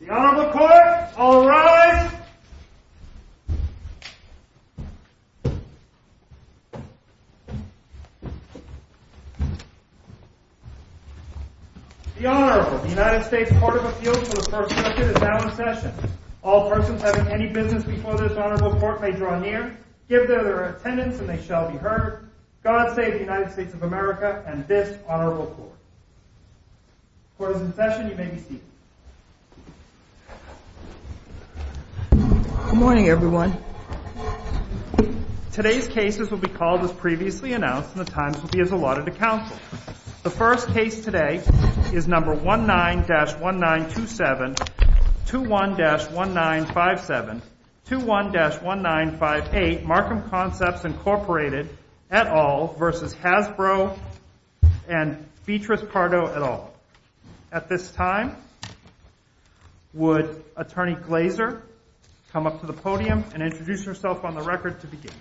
The Honorable Court, all rise. The Honorable, the United States Court of Appeals for the First Circuit, is now in session. All persons having any business before this Honorable Court may draw near, give their attendance, and they shall be heard. God save the United States of America and this Honorable Court. Court is in session. You may be seated. Good morning, everyone. Today's cases will be called as previously announced and the times will be as allotted to counsel. The first case today is number 19-1927, 21-1957, 21-1958, Markham Concepts, Inc. et al. v. Hasbro and Beatrice Pardo et al. At this time, would Attorney Glazer come up to the podium and introduce herself on the record to begin?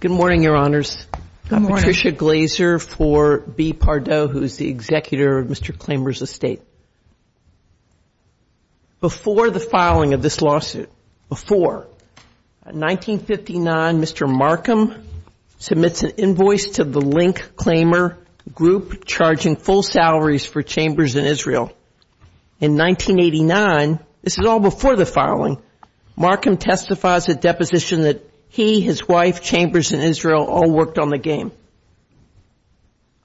Good morning, Your Honors. Good morning. Patricia Glazer for B. Pardo, who is the executor of Mr. Klamer's estate. Before the filing of this lawsuit, before, in 1959, Mr. Markham submits an invoice to the Link Klamer Group, charging full salaries for Chambers and Israel. In 1989, this is all before the filing, Markham testifies a deposition that he, his wife, Chambers, and Israel all worked on the game.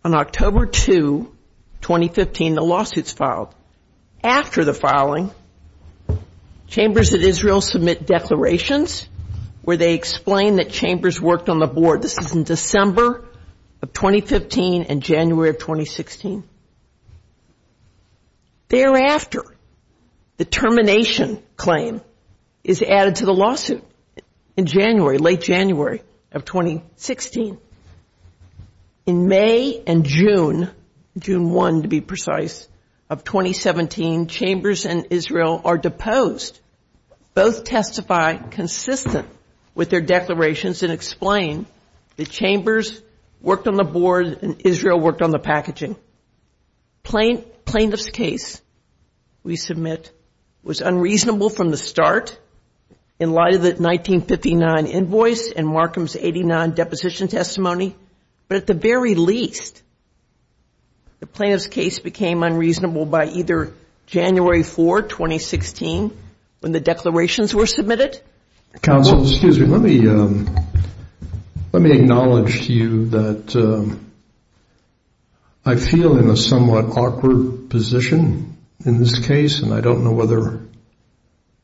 On October 2, 2015, the lawsuit is filed. After the filing, Chambers and Israel submit declarations where they explain that Chambers worked on the board. This is in December of 2015 and January of 2016. Thereafter, the termination claim is added to the lawsuit in January, late January of 2016. In May and June, June 1 to be precise, of 2017, Chambers and Israel are deposed. Both testify consistent with their declarations and explain that Chambers worked on the board and Israel worked on the packaging. Plaintiff's case we submit was unreasonable from the start. In light of the 1959 invoice and Markham's 89 deposition testimony, but at the very least, the plaintiff's case became unreasonable by either January 4, 2016, when the declarations were submitted. Counsel, excuse me. Let me, let me acknowledge to you that I feel in a somewhat awkward position in this case, and I don't know whether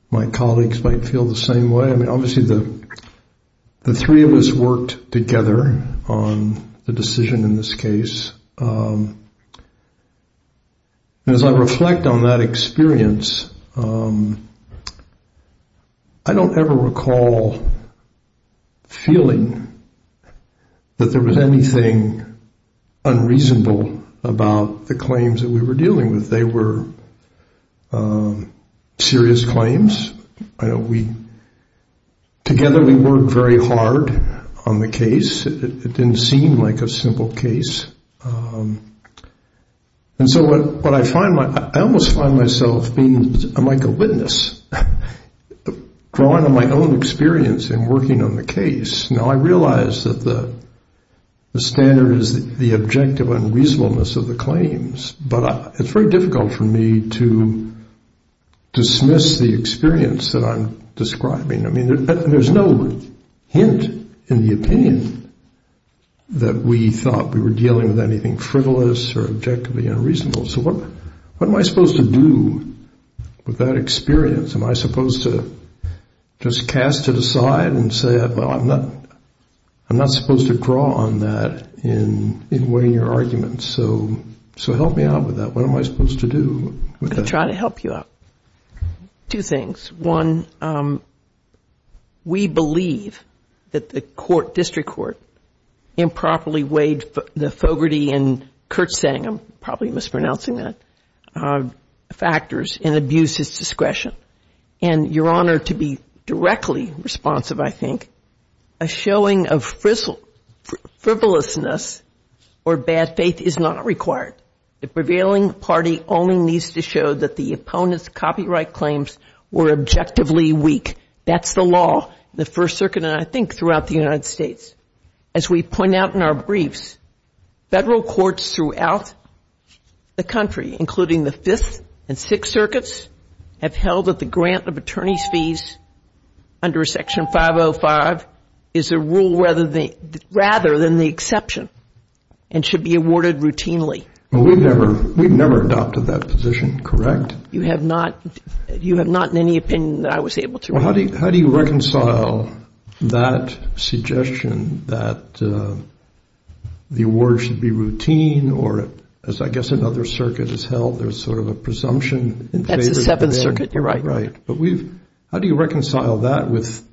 my colleagues might feel the same way. I mean, obviously, the three of us worked together on the decision in this case. As I reflect on that experience, I don't ever recall feeling that there was anything unreasonable about the claims that we were dealing with. They were serious claims. We, together, we worked very hard on the case. It didn't seem like a simple case. And so what I find, I almost find myself being, I'm like a witness, drawing on my own experience in working on the case. Now, I realize that the standard is the objective unreasonableness of the claims, but it's very difficult for me to dismiss the experience that I'm describing. I mean, there's no hint in the opinion that we thought we were dealing with anything frivolous or objectively unreasonable. So what am I supposed to do with that experience? Am I supposed to just cast it aside and say, well, I'm not, I'm not supposed to draw on that in weighing your arguments. So help me out with that. What am I supposed to do with that? I'm going to try to help you out. Two things. One, we believe that the court, district court, improperly weighed the Fogarty and Kurtzsang, I'm probably mispronouncing that, factors in abuse's discretion. And Your Honor, to be directly responsive, I think, a showing of frivolousness or bad faith is not required. The prevailing party only needs to show that the opponent's copyright claims were objectively weak. That's the law in the First Circuit and I think throughout the United States. As we point out in our briefs, federal courts throughout the country, including the Fifth and Sixth Circuits, have held that the grant of attorney's fees under Section 505 is a rule rather than the exception and should be awarded routinely. Well, we've never adopted that position, correct? You have not in any opinion that I was able to. Well, how do you reconcile that suggestion that the award should be routine or as I guess another circuit has held, there's sort of a presumption? That's the Seventh Circuit, you're right. Right, but how do you reconcile that with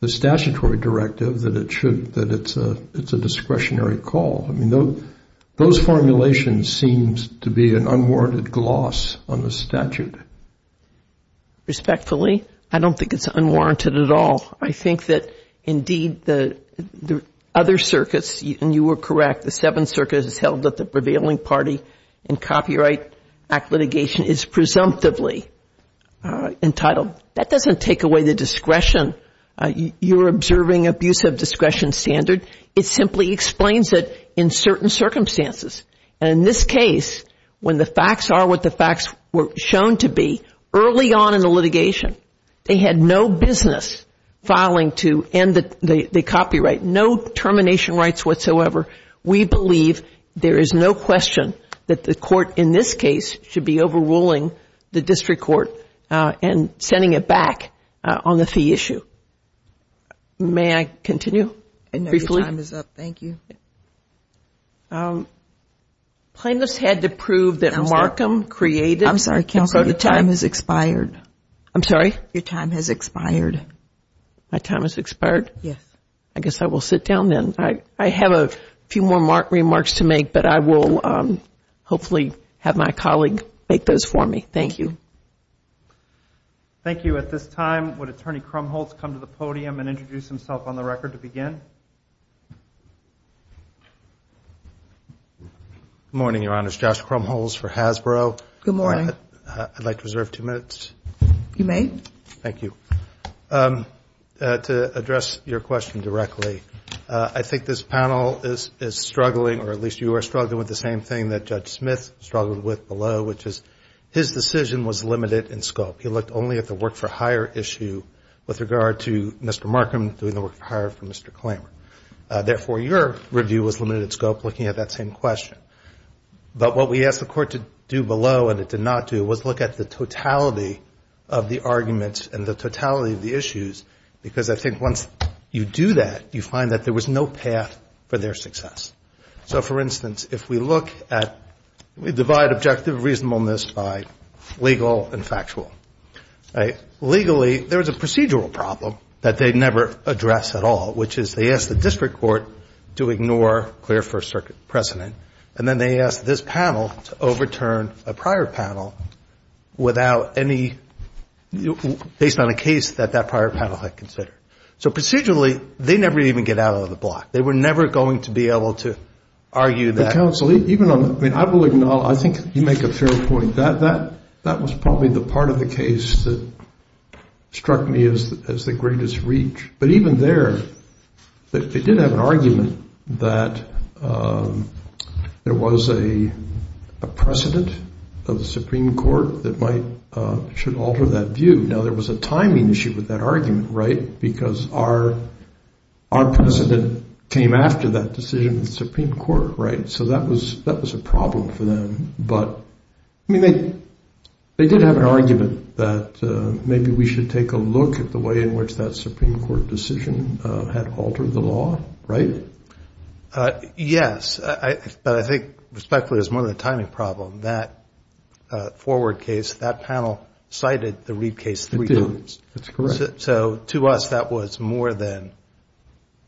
the statutory directive that it should, that it's a discretionary call? I mean, those formulations seem to be an unwarranted gloss on the statute. Respectfully, I don't think it's unwarranted at all. I think that indeed the other circuits, and you were correct, the Seventh Circuit has held that the prevailing party in Copyright Act litigation is presumptively entitled. That doesn't take away the discretion. You're observing abuse of discretion standard. It simply explains it in certain circumstances. And in this case, when the facts are what the facts were shown to be, early on in the litigation, they had no business filing to end the copyright, no termination rights whatsoever. We believe there is no question that the court in this case should be overruling the district court and sending it back on the fee issue. May I continue briefly? I know your time is up. Thank you. Plaintiffs had to prove that Markham created. I'm sorry counsel, your time has expired. I'm sorry? Your time has expired. My time has expired? Yes. I guess I will sit down then. I have a few more remarks to make, but I will hopefully have my colleague make those for me. Thank you. Thank you. At this time, would Attorney Krumholz come to the podium and introduce himself on the record to begin? Good morning, Your Honors. Josh Krumholz for Hasbro. Good morning. I'd like to reserve two minutes. You may. Thank you. To address your question directly, I think this panel is struggling, or at least you are struggling with the same thing that Judge Smith struggled with below, which is his decision was limited in scope. He looked only at the work for hire issue with regard to Mr. Markham doing the work for hire for Mr. Klamer. Therefore, your review was limited in scope looking at that same question. But what we asked the court to do below, and it did not do, was look at the totality of the arguments and the totality of the issues, because I think once you do that, you find that there was no path for their success. So, for instance, if we look at, we divide objective reasonableness by legal and factual. Legally, there is a procedural problem that they never address at all, which is they ask the district court to ignore clear First Circuit precedent, and then they ask this panel to overturn a prior panel without any, based on a case that that prior panel had considered. So procedurally, they never even get out of the block. They were never going to be able to argue that. Counsel, even on, I mean, I will acknowledge, I think you make a fair point. That was probably the part of the case that struck me as the greatest reach. But even there, they did have an argument that there was a precedent of the Supreme Court that might, should alter that view. Now, there was a timing issue with that argument, right? Because our precedent came after that decision in the Supreme Court, right? So that was a problem for them. But, I mean, they did have an argument that maybe we should take a look at the way in which that Supreme Court decision had altered the law, right? Yes. But I think, respectfully, it was more of a timing problem. That forward case, that panel cited the Reid case three times. That's correct. So to us, that was more than,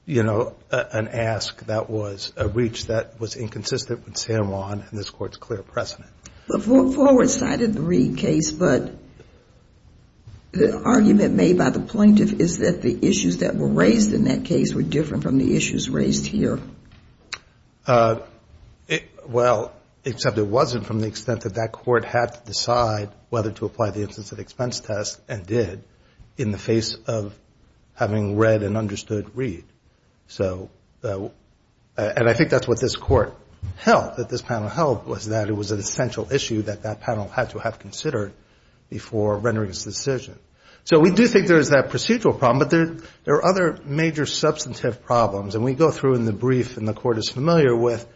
you know, an ask. That was a reach that was inconsistent with San Juan and this Court's clear precedent. Forward cited the Reid case, but the argument made by the plaintiff is that the issues that were raised in that case were different from the issues raised here. Well, except it wasn't from the extent that that Court had to decide whether to apply the instance of expense test and did in the face of having read and understood Reid. So, and I think that's what this Court held, that this panel held, was that it was an essential issue that that panel had to have considered before rendering its decision. So we do think there is that procedural problem, but there are other major substantive problems. And we go through in the brief, and the Court is familiar with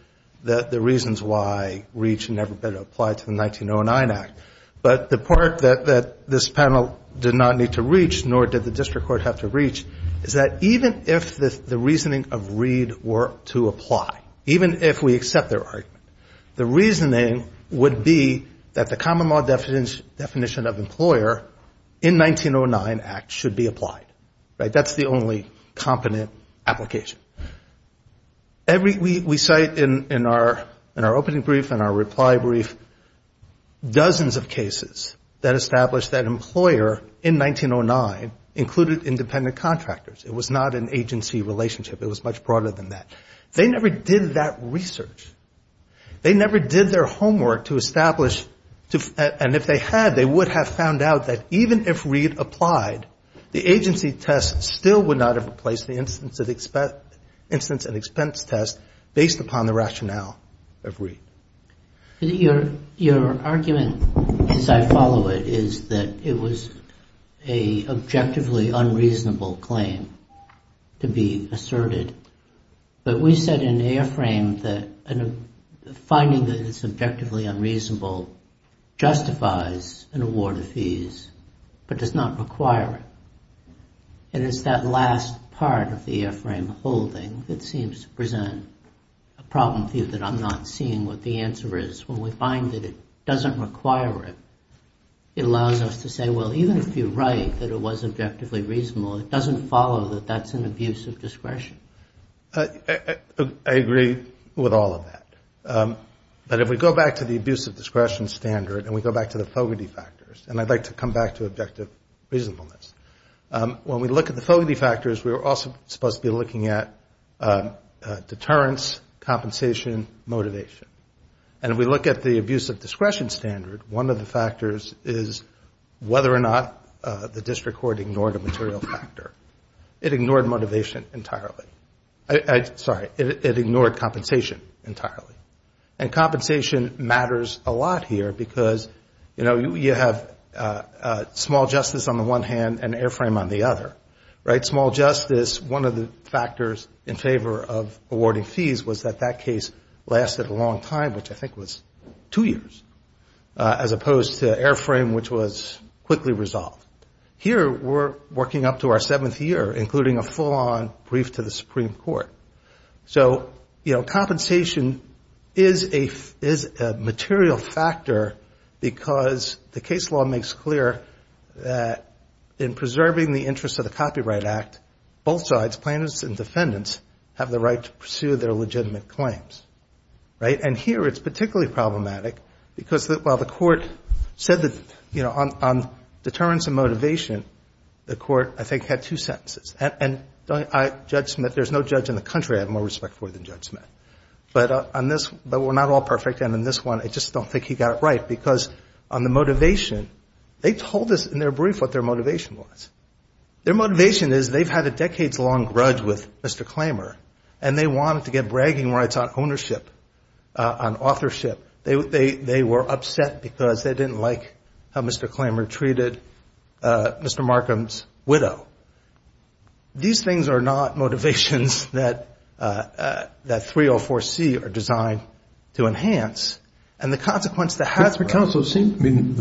the reasons why Reid should never have been applied to the 1909 Act. But the part that this panel did not need to reach, nor did the district court have to reach, is that even if the reasoning of Reid were to apply, even if we accept their argument, the reasoning would be that the common law definition of employer in 1909 Act should be applied. Right? That's the only competent application. We cite in our opening brief and our reply brief dozens of cases that establish that employer in 1909 included independent contractors. It was not an agency relationship. It was much broader than that. They never did that research. They never did their homework to establish, and if they had, they would have found out that even if Reid applied, the agency test still would not have replaced the instance of expense test based upon the rationale of Reid. Your argument, as I follow it, is that it was an objectively unreasonable claim to be asserted, but we said in the airframe that finding that it's objectively unreasonable justifies an award of fees, but does not require it. And it's that last part of the airframe holding that seems to present a problem for you that I'm not seeing what the answer is. When we find that it doesn't require it, it allows us to say, well, even if you're right that it was objectively reasonable, it doesn't follow that that's an abuse of discretion. I agree with all of that. But if we go back to the abuse of discretion standard and we go back to the fogety factors, and I'd like to come back to objective reasonableness, when we look at the fogety factors, we're also supposed to be looking at deterrence, compensation, motivation. And if we look at the abuse of discretion standard, one of the factors is whether or not the district court ignored a material factor. It ignored motivation entirely. Sorry, it ignored compensation entirely. And compensation matters a lot here because, you know, you have small justice on the one hand and airframe on the other. Right? Small justice, one of the factors in favor of awarding fees was that that case lasted a long time, which I think was two years, as opposed to airframe, which was quickly resolved. Here we're working up to our seventh year, including a full-on brief to the Supreme Court. So, you know, compensation is a material factor because the case law makes clear that in preserving the interest of the Copyright Act, both sides, plaintiffs and defendants, have the right to pursue their legitimate claims. Right? And here it's particularly problematic because while the court said that, you know, on deterrence and motivation, the court, I think, had two sentences. And Judge Smith, there's no judge in the country I have more respect for than Judge Smith. But on this, but we're not all perfect, and on this one, I just don't think he got it right because on the motivation, they told us in their brief what their motivation was. Their motivation is they've had a decades-long grudge with Mr. Klamer, and they wanted to get bragging rights on ownership, on authorship. They were upset because they didn't like how Mr. Klamer treated Mr. Markham's widow. These things are not motivations that 304C are designed to enhance. And the consequence that has been- too cheaply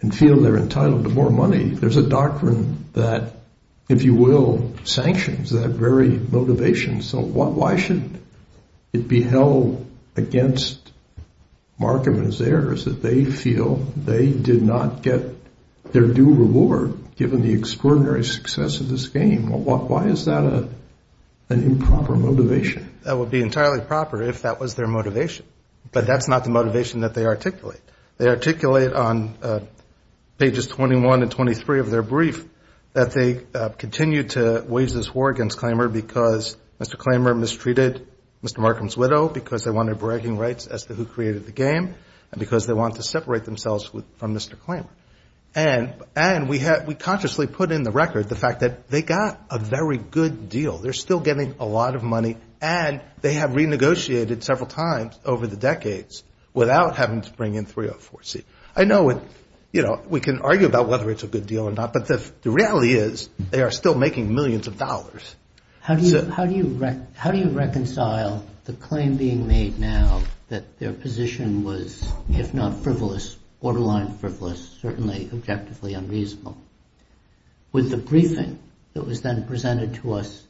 and feel they're entitled to more money. There's a doctrine that, if you will, sanctions that very motivation. So why should it be held against Markham and his heirs that they feel they did not get their due reward, given the extraordinary success of this game? Why is that an improper motivation? That would be entirely proper if that was their motivation. But that's not the motivation that they articulate. They articulate on pages 21 and 23 of their brief that they continue to wage this war against Klamer because Mr. Klamer mistreated Mr. Markham's widow, because they wanted bragging rights as to who created the game, and because they wanted to separate themselves from Mr. Klamer. And we consciously put in the record the fact that they got a very good deal. They're still getting a lot of money, and they have renegotiated several times over the decades without having to bring in 304C. I know we can argue about whether it's a good deal or not, but the reality is they are still making millions of dollars. How do you reconcile the claim being made now that their position was, if not frivolous, borderline frivolous, certainly objectively unreasonable, with the briefing that was then presented to us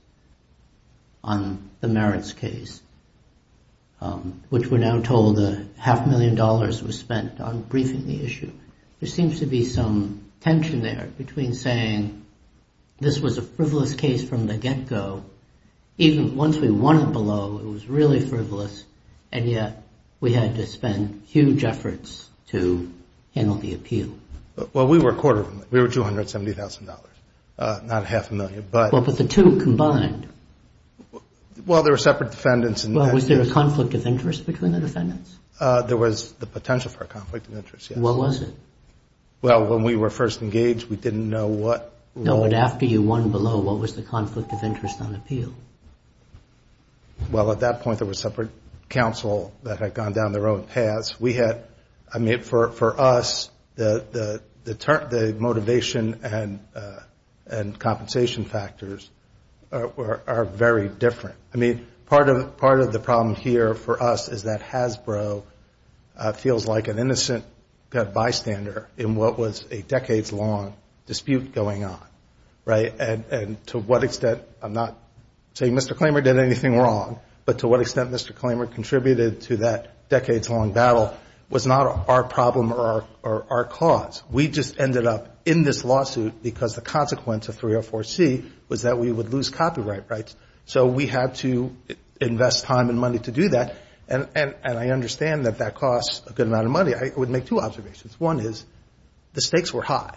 on the merits case, which we're now told a half million dollars was spent on briefing the issue? There seems to be some tension there between saying this was a frivolous case from the get-go. Even once we won it below, it was really frivolous, and yet we had to spend huge efforts to handle the appeal. Well, we were a quarter of a million. We were $270,000, not half a million. Well, but the two combined. Well, there were separate defendants. Well, was there a conflict of interest between the defendants? There was the potential for a conflict of interest, yes. What was it? Well, when we were first engaged, we didn't know what role— No, but after you won below, what was the conflict of interest on appeal? Well, at that point, there was separate counsel that had gone down their own paths. We had—I mean, for us, the motivation and compensation factors are very different. I mean, part of the problem here for us is that Hasbro feels like an innocent bystander in what was a decades-long dispute going on, right? And to what extent—I'm not saying Mr. Klamer did anything wrong, but to what extent Mr. Klamer contributed to that decades-long battle was not our problem or our cause. We just ended up in this lawsuit because the consequence of 304C was that we would lose copyright rights. So we had to invest time and money to do that, and I understand that that costs a good amount of money. I would make two observations. One is the stakes were high,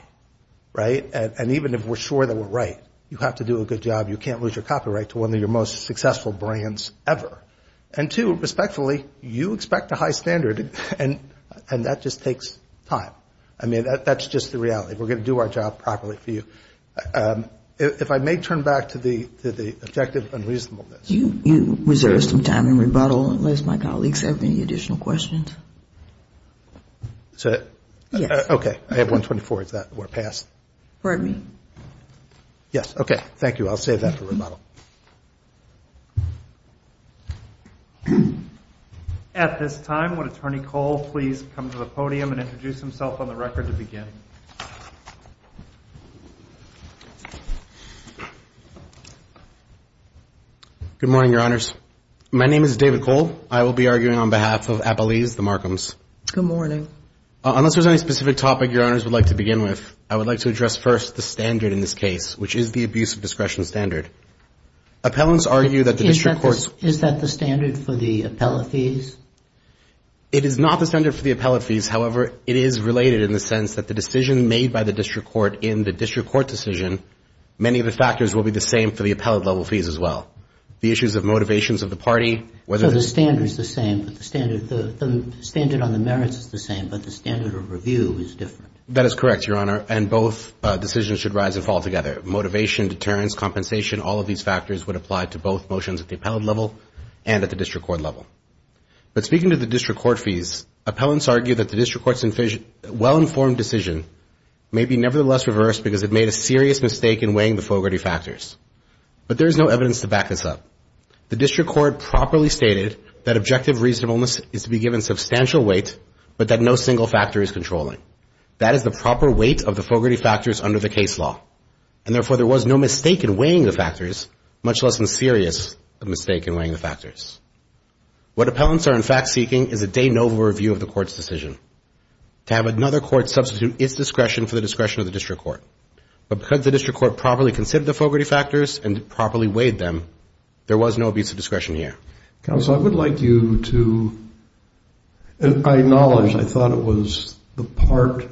right? And even if we're sure that we're right, you have to do a good job. You can't lose your copyright to one of your most successful brands ever. And two, respectfully, you expect a high standard, and that just takes time. I mean, that's just the reality. We're going to do our job properly for you. If I may turn back to the objective unreasonableness. You reserved some time in rebuttal, unless my colleagues have any additional questions. Is that it? Yes. Okay. I have 124. Is that where it passed? Pardon me? Yes. Okay. Thank you. I'll save that for rebuttal. At this time, would Attorney Cole please come to the podium and introduce himself on the record to begin? Good morning, Your Honors. My name is David Cole. I will be arguing on behalf of Appalese, the Markhams. Good morning. Unless there's any specific topic Your Honors would like to begin with, I would like to address first the standard in this case, which is the abuse of discretion standard. Appellants argue that the district courts — Is that the standard for the appellate fees? It is not the standard for the appellate fees. However, it is related in the sense that the decision made by the district court in the district court decision, many of the factors will be the same for the appellate-level fees as well. The issues of motivations of the party, whether — No, the standard is the same. The standard on the merits is the same, but the standard of review is different. That is correct, Your Honor, and both decisions should rise and fall together. Motivation, deterrence, compensation, all of these factors would apply to both motions at the appellate level and at the district court level. But speaking to the district court fees, appellants argue that the district court's well-informed decision may be nevertheless reversed because it made a serious mistake in weighing the fogarty factors. But there is no evidence to back this up. The district court properly stated that objective reasonableness is to be given substantial weight, but that no single factor is controlling. That is the proper weight of the fogarty factors under the case law, and therefore there was no mistake in weighing the factors, much less a serious mistake in weighing the factors. What appellants are in fact seeking is a de novo review of the court's decision to have another court substitute its discretion for the discretion of the district court. But because the district court properly considered the fogarty factors and properly weighed them, there was no abuse of discretion here. Counsel, I would like you to acknowledge, I thought it was the part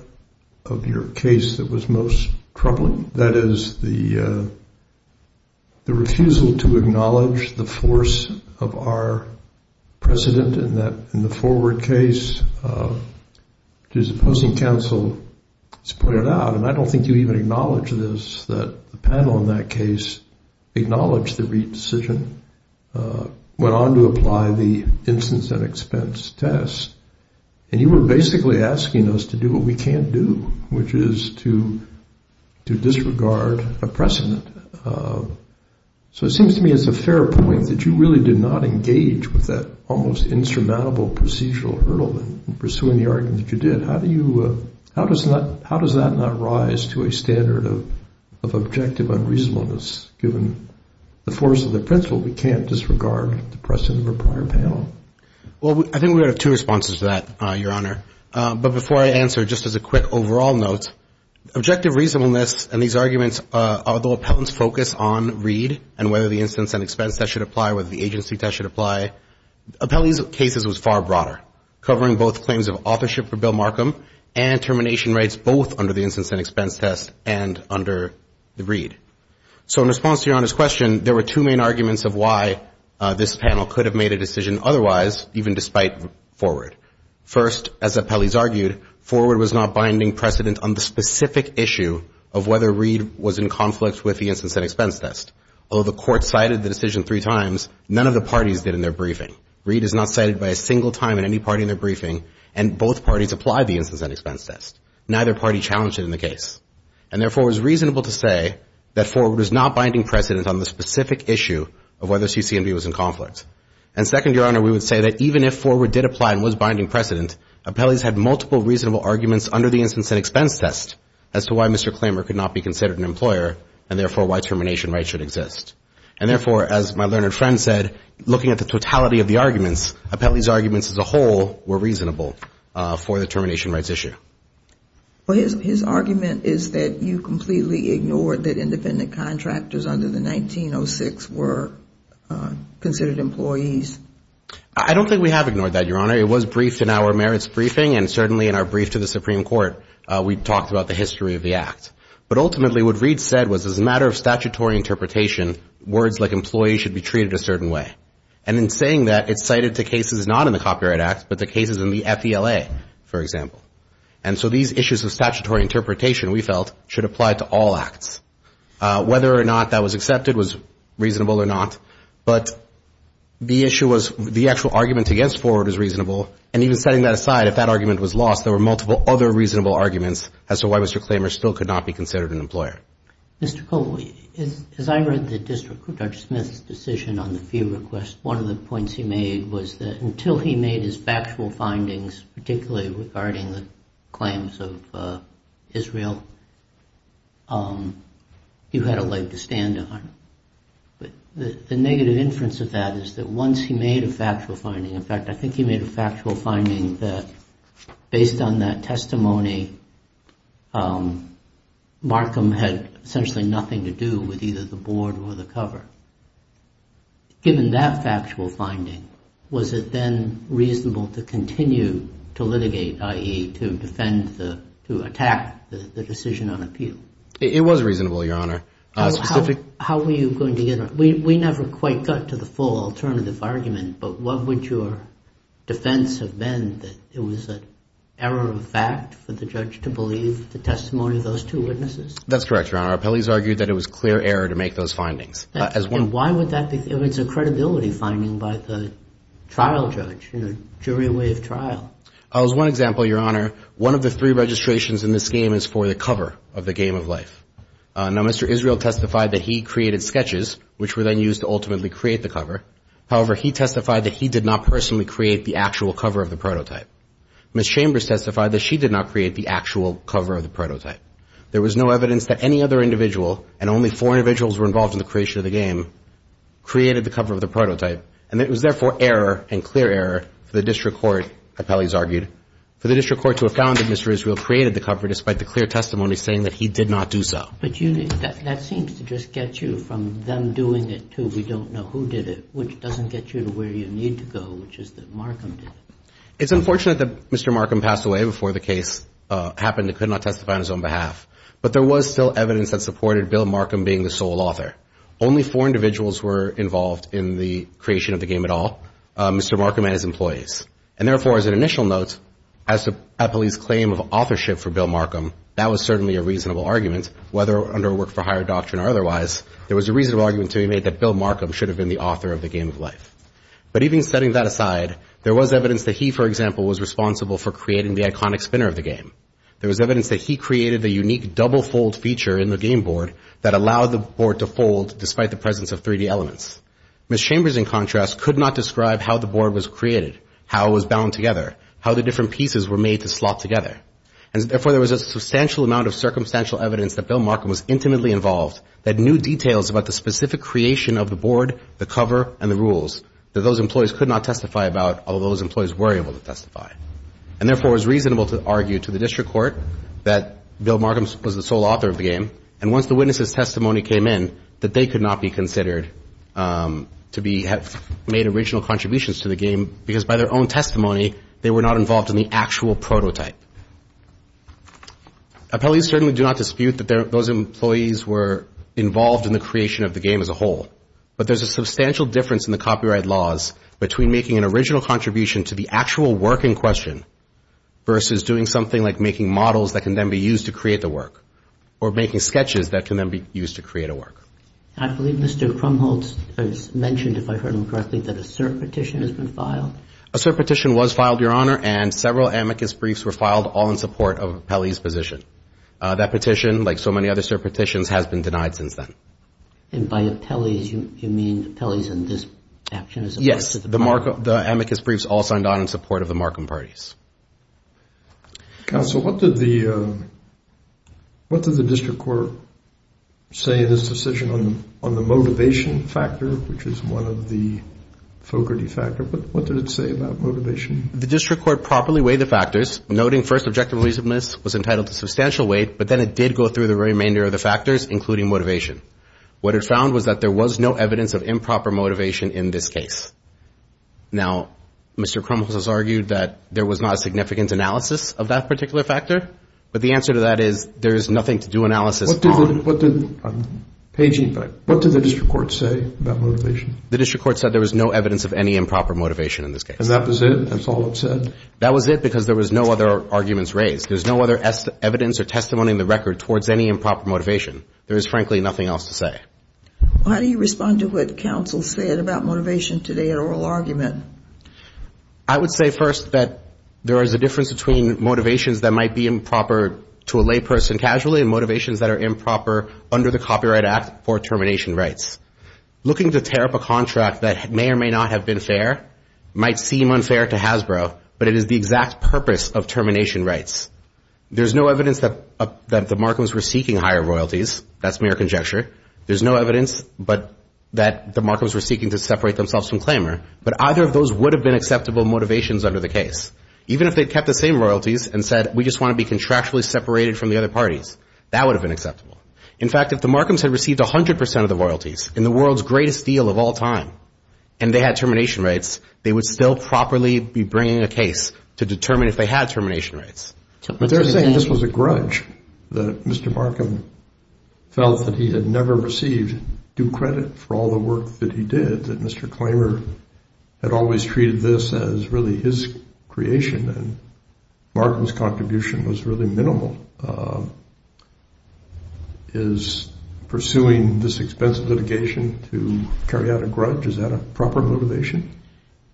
of your case that was most troubling, that is the refusal to acknowledge the force of our precedent in the forward case. As the opposing counsel has pointed out, and I don't think you even acknowledge this, that the panel in that case acknowledged the Reid decision, went on to apply the instance and expense test, and you were basically asking us to do what we can't do, which is to disregard a precedent. So it seems to me it's a fair point that you really did not engage with that almost insurmountable procedural hurdle in pursuing the argument that you did. How does that not rise to a standard of objective unreasonableness, given the force of the principle we can't disregard the precedent of a prior panel? Well, I think we would have two responses to that, Your Honor. But before I answer, just as a quick overall note, objective reasonableness and these arguments, although appellants focus on Reid and whether the instance and expense test should apply, whether the agency test should apply, Appellee's case was far broader, covering both claims of authorship for Bill Markham and termination rights both under the instance and expense test and under the Reid. So in response to Your Honor's question, there were two main arguments of why this panel could have made a decision otherwise, even despite forward. First, as appellees argued, forward was not binding precedent on the specific issue of whether Reid was in conflict with the instance and expense test. Although the court cited the decision three times, none of the parties did in their briefing. Reid is not cited by a single time in any party in their briefing, and both parties apply the instance and expense test. Neither party challenged it in the case. And therefore, it was reasonable to say that forward was not binding precedent on the specific issue of whether CCMB was in conflict. And second, Your Honor, we would say that even if forward did apply and was binding precedent, appellees had multiple reasonable arguments under the instance and expense test as to why Mr. Klamer could not be considered an employer and therefore why termination rights should exist. And therefore, as my learned friend said, looking at the totality of the arguments, appellees' arguments as a whole were reasonable for the termination rights issue. Well, his argument is that you completely ignored that independent contractors under the 1906 were considered employees. I don't think we have ignored that, Your Honor. It was briefed in our merits briefing, and certainly in our brief to the Supreme Court, we talked about the history of the act. But ultimately, what Reid said was as a matter of statutory interpretation, words like employee should be treated a certain way. And in saying that, it's cited to cases not in the Copyright Act, but the cases in the FELA, for example. And so these issues of statutory interpretation, we felt, should apply to all acts. Whether or not that was accepted was reasonable or not, but the issue was the actual argument against forward is reasonable. And even setting that aside, if that argument was lost, there were multiple other reasonable arguments as to why Mr. Klamer still could not be considered an employer. Mr. Colwell, as I read the district judge Smith's decision on the fee request, one of the points he made was that until he made his factual findings, particularly regarding the claims of Israel, you had a leg to stand on. But the negative inference of that is that once he made a factual finding, in fact, I think he made a factual finding that based on that testimony, Markham had essentially nothing to do with either the board or the cover. Given that factual finding, was it then reasonable to continue to litigate, i.e., to defend the, to attack the decision on appeal? It was reasonable, Your Honor. How were you going to get, we never quite got to the full alternative argument, but what would your defense have been? That it was an error of fact for the judge to believe the testimony of those two witnesses? That's correct, Your Honor. Appellees argued that it was clear error to make those findings. And why would that be? It was a credibility finding by the trial judge in a jury way of trial. As one example, Your Honor, one of the three registrations in this game is for the cover of the game of life. Now, Mr. Israel testified that he created sketches, which were then used to ultimately create the cover. However, he testified that he did not personally create the actual cover of the prototype. Ms. Chambers testified that she did not create the actual cover of the prototype. There was no evidence that any other individual, and only four individuals were involved in the creation of the game, created the cover of the prototype. And it was therefore error, and clear error, for the district court, appellees argued, for the district court to have found that Mr. Israel created the cover despite the clear testimony saying that he did not do so. But that seems to just get you from them doing it to we don't know who did it, which doesn't get you to where you need to go, which is that Markham did it. It's unfortunate that Mr. Markham passed away before the case happened and could not testify on his own behalf. But there was still evidence that supported Bill Markham being the sole author. Only four individuals were involved in the creation of the game at all, Mr. Markham and his employees. And therefore, as an initial note, as an appellee's claim of authorship for Bill Markham, that was certainly a reasonable argument, whether under a work-for-hire doctrine or otherwise, there was a reasonable argument to be made that Bill Markham should have been the author of the game of life. But even setting that aside, there was evidence that he, for example, was responsible for creating the iconic spinner of the game. There was evidence that he created the unique double-fold feature in the game board that allowed the board to fold despite the presence of 3-D elements. Ms. Chambers, in contrast, could not describe how the board was created, how it was bound together, how the different pieces were made to slot together. And therefore, there was a substantial amount of circumstantial evidence that Bill Markham was intimately involved, that knew details about the specific creation of the board, the cover, and the rules, that those employees could not testify about, although those employees were able to testify. And therefore, it was reasonable to argue to the district court that Bill Markham was the sole author of the game. And once the witness's testimony came in, that they could not be considered to be, have made original contributions to the game, because by their own testimony, they were not involved in the actual prototype. Appellees certainly do not dispute that those employees were involved in the creation of the game as a whole, but there's a substantial difference in the copyright laws between making an original contribution to the actual work in question versus doing something like making models that can then be used to create the work, or making sketches that can then be used to create a work. I believe Mr. Krumholz has mentioned, if I heard him correctly, that a cert petition has been filed. A cert petition was filed, Your Honor, and several amicus briefs were filed all in support of Appellee's position. That petition, like so many other cert petitions, has been denied since then. And by appellees, you mean appellees in this action? Yes, the amicus briefs all signed on in support of the Markham parties. Counsel, what did the district court say in its decision on the motivation factor, which is one of the Fogarty factors? What did it say about motivation? The district court properly weighed the factors, noting first objective reasonableness was entitled to substantial weight, but then it did go through the remainder of the factors, including motivation. What it found was that there was no evidence of improper motivation in this case. Now, Mr. Krumholz has argued that there was not a significant analysis of that particular factor, but the answer to that is there is nothing to do analysis on. I'm paging back. What did the district court say about motivation? The district court said there was no evidence of any improper motivation in this case. And that was it? That's all it said? That was it because there was no other arguments raised. There's no other evidence or testimony in the record towards any improper motivation. There is, frankly, nothing else to say. How do you respond to what counsel said about motivation today in oral argument? I would say first that there is a difference between motivations that might be improper to a layperson casually and motivations that are improper under the Copyright Act for termination rights. Looking to tear up a contract that may or may not have been fair might seem unfair to Hasbro, but it is the exact purpose of termination rights. There's no evidence that the Markhams were seeking higher royalties. That's mere conjecture. There's no evidence that the Markhams were seeking to separate themselves from Klamer, but either of those would have been acceptable motivations under the case, even if they kept the same royalties and said, we just want to be contractually separated from the other parties. That would have been acceptable. In fact, if the Markhams had received 100% of the royalties in the world's greatest deal of all time and they had termination rights, they would still properly be bringing a case to determine if they had termination rights. But they're saying this was a grudge that Mr. Markham felt that he had never received due credit for all the work that he did, that Mr. Klamer had always treated this as really his creation and Markham's contribution was really minimal. Is pursuing this expensive litigation to carry out a grudge, is that a proper motivation?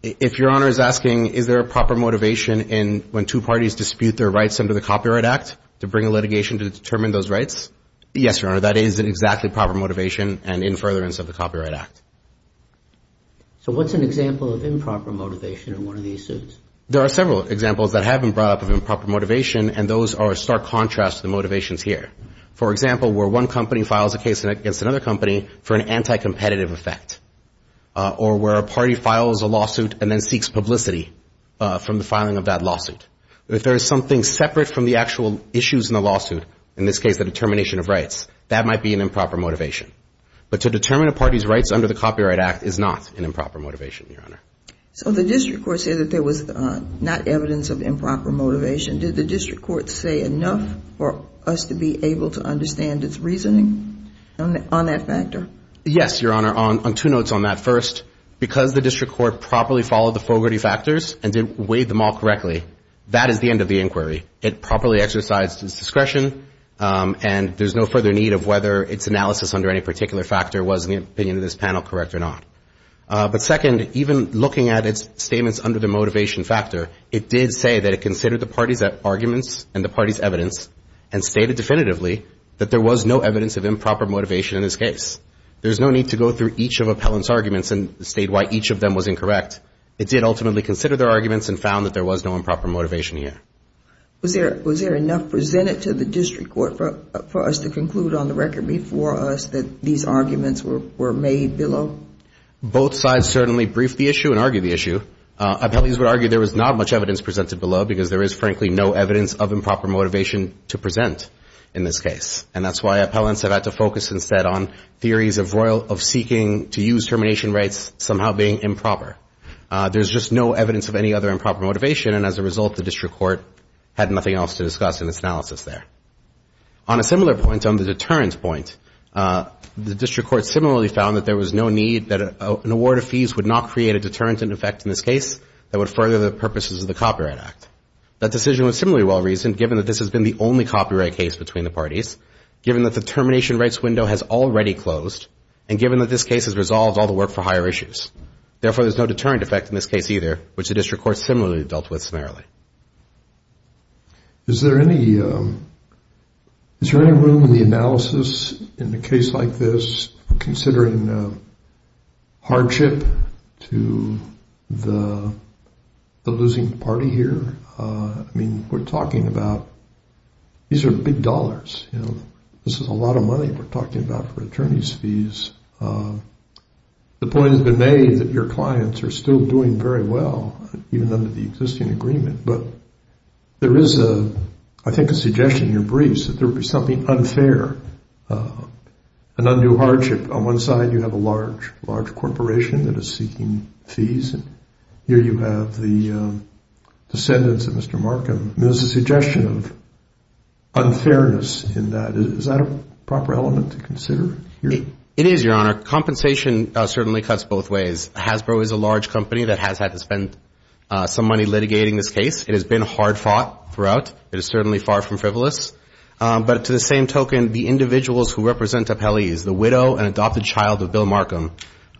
If Your Honor is asking, is there a proper motivation when two parties dispute their rights under the Copyright Act to bring a litigation to determine those rights, yes, Your Honor, that is an exactly proper motivation and in furtherance of the Copyright Act. So what's an example of improper motivation in one of these suits? There are several examples that have been brought up of improper motivation and those are a stark contrast to the motivations here. For example, where one company files a case against another company for an anti-competitive effect or where a party files a lawsuit and then seeks publicity from the filing of that lawsuit. If there is something separate from the actual issues in the lawsuit, in this case the determination of rights, that might be an improper motivation. But to determine a party's rights under the Copyright Act is not an improper motivation, Your Honor. So the district court said that there was not evidence of improper motivation. Did the district court say enough for us to be able to understand its reasoning on that factor? Yes, Your Honor, on two notes on that. First, because the district court properly followed the Fogarty factors and did weigh them all correctly, that is the end of the inquiry. It properly exercised its discretion and there's no further need of whether its analysis under any particular factor was, in the opinion of this panel, correct or not. But second, even looking at its statements under the motivation factor, it did say that it considered the party's arguments and the party's evidence and stated definitively that there was no evidence of improper motivation in this case. There's no need to go through each of Appellant's arguments and state why each of them was incorrect. It did ultimately consider their arguments and found that there was no improper motivation here. Was there enough presented to the district court for us to conclude on the record before us that these arguments were made below? Both sides certainly briefed the issue and argued the issue. Appellees would argue there was not much evidence presented below because there is, frankly, no evidence of improper motivation to present in this case. And that's why Appellants have had to focus instead on theories of seeking to use termination rights somehow being improper. There's just no evidence of any other improper motivation and as a result the district court had nothing else to discuss in its analysis there. On a similar point, on the deterrent point, the district court similarly found that there was no need, that an award of fees would not create a deterrent in effect in this case that would further the purposes of the Copyright Act. That decision was similarly well reasoned given that this has been the only copyright case between the parties, given that the termination rights window has already closed, and given that this case has resolved all the work for higher issues. Therefore, there's no deterrent effect in this case either, which the district court similarly dealt with summarily. Is there any room in the analysis in a case like this considering hardship to the losing party here? I mean, we're talking about, these are big dollars. This is a lot of money we're talking about for attorney's fees. The point has been made that your clients are still doing very well, even under the existing agreement, but there is, I think, a suggestion in your briefs that there would be something unfair, an undue hardship. On one side, you have a large, large corporation that is seeking fees, and here you have the descendants of Mr. Markham. There's a suggestion of unfairness in that. Is that a proper element to consider here? It is, Your Honor. Compensation certainly cuts both ways. Hasbro is a large company that has had to spend some money litigating this case. It has been hard fought throughout. It is certainly far from frivolous. But to the same token, the individuals who represent Apelles, the widow and adopted child of Bill Markham,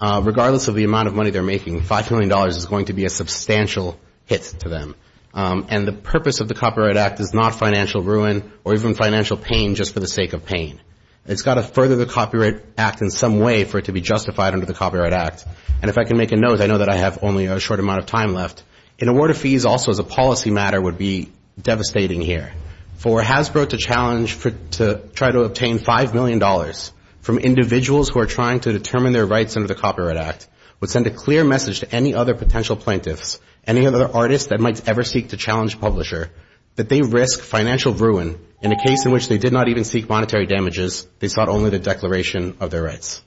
regardless of the amount of money they're making, $5 million is going to be a substantial hit to them. And the purpose of the Copyright Act is not financial ruin or even financial pain just for the sake of pain. It's got to further the Copyright Act in some way for it to be justified under the Copyright Act. And if I can make a note, I know that I have only a short amount of time left. An award of fees also as a policy matter would be devastating here. For Hasbro to challenge to try to obtain $5 million from individuals who are trying to determine their rights under the Copyright Act would send a clear message to any other potential plaintiffs, any other artists that might ever seek to challenge publisher, that they risk financial ruin in a case in which they did not even seek monetary damages. They sought only the declaration of their rights.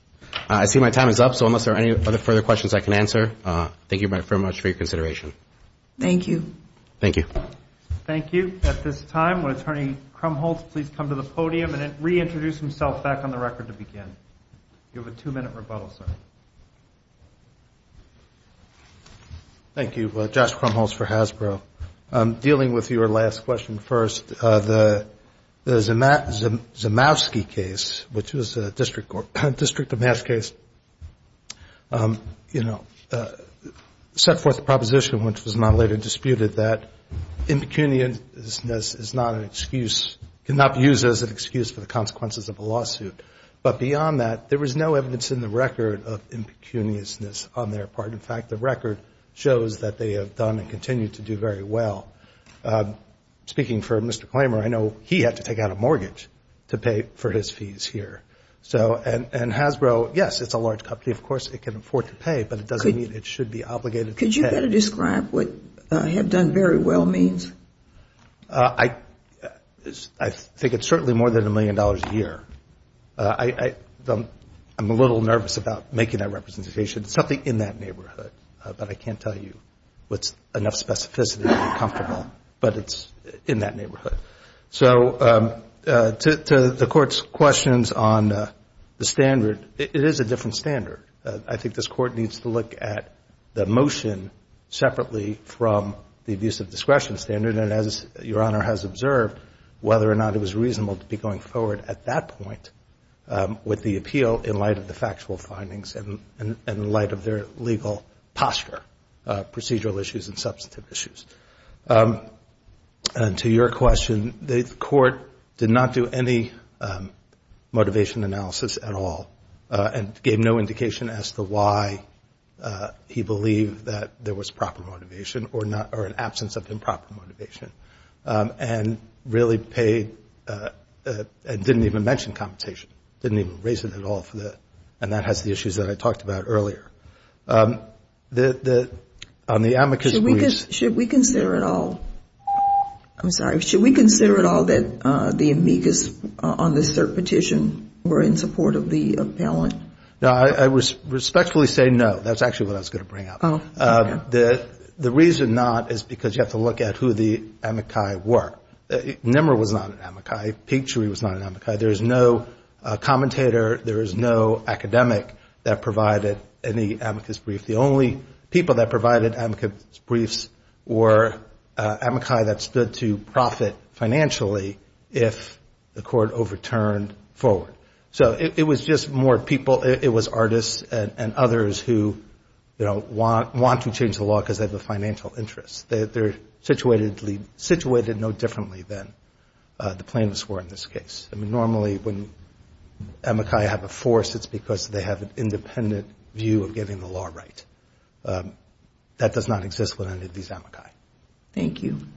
I see my time is up, so unless there are any other further questions I can answer, thank you very much for your consideration. Thank you. Thank you. Thank you. At this time, will Attorney Krumholtz please come to the podium and reintroduce himself back on the record to begin. You have a two-minute rebuttal, sir. Thank you. Josh Krumholtz for Hasbro. Dealing with your last question first, the Zamowski case, which was a District of Mass case, you know, set forth the proposition, which was not later disputed, that impecuniousness is not an excuse, cannot be used as an excuse for the consequences of a lawsuit. But beyond that, there was no evidence in the record of impecuniousness on their part. In fact, the record shows that they have done and continue to do very well. Speaking for Mr. Klamer, I know he had to take out a mortgage to pay for his fees here. And Hasbro, yes, it's a large company. Of course, it can afford to pay, but it doesn't mean it should be obligated to pay. Could you better describe what have done very well means? I think it's certainly more than a million dollars a year. I'm a little nervous about making that representation. It's something in that neighborhood, but I can't tell you what's enough specificity to be comfortable. But it's in that neighborhood. So to the Court's questions on the standard, it is a different standard. I think this Court needs to look at the motion separately from the abuse of discretion standard, and as Your Honor has observed, whether or not it was reasonable to be going forward at that point with the appeal in light of the factual findings and in light of their legal posture, procedural issues and substantive issues. To your question, the Court did not do any motivation analysis at all and gave no indication as to why he believed that there was proper motivation or an absence of improper motivation, and really paid and didn't even mention compensation, didn't even raise it at all. And that has the issues that I talked about earlier. Should we consider at all that the amicus on this third petition were in support of the appellant? I respectfully say no. That's actually what I was going to bring up. The reason not is because you have to look at who the amici were. Nimmer was not an amici. Pinktree was not an amici. There is no commentator, there is no academic that provided any amicus brief. The only people that provided amicus briefs were amici that stood to profit financially if the Court overturned forward. So it was just more people, it was artists and others who, you know, want to change the law because they have a financial interest. They're situated no differently than the plaintiffs were in this case. Normally when amici have a force, it's because they have an independent view of getting the law right. That does not exist with any of these amici. Thank you.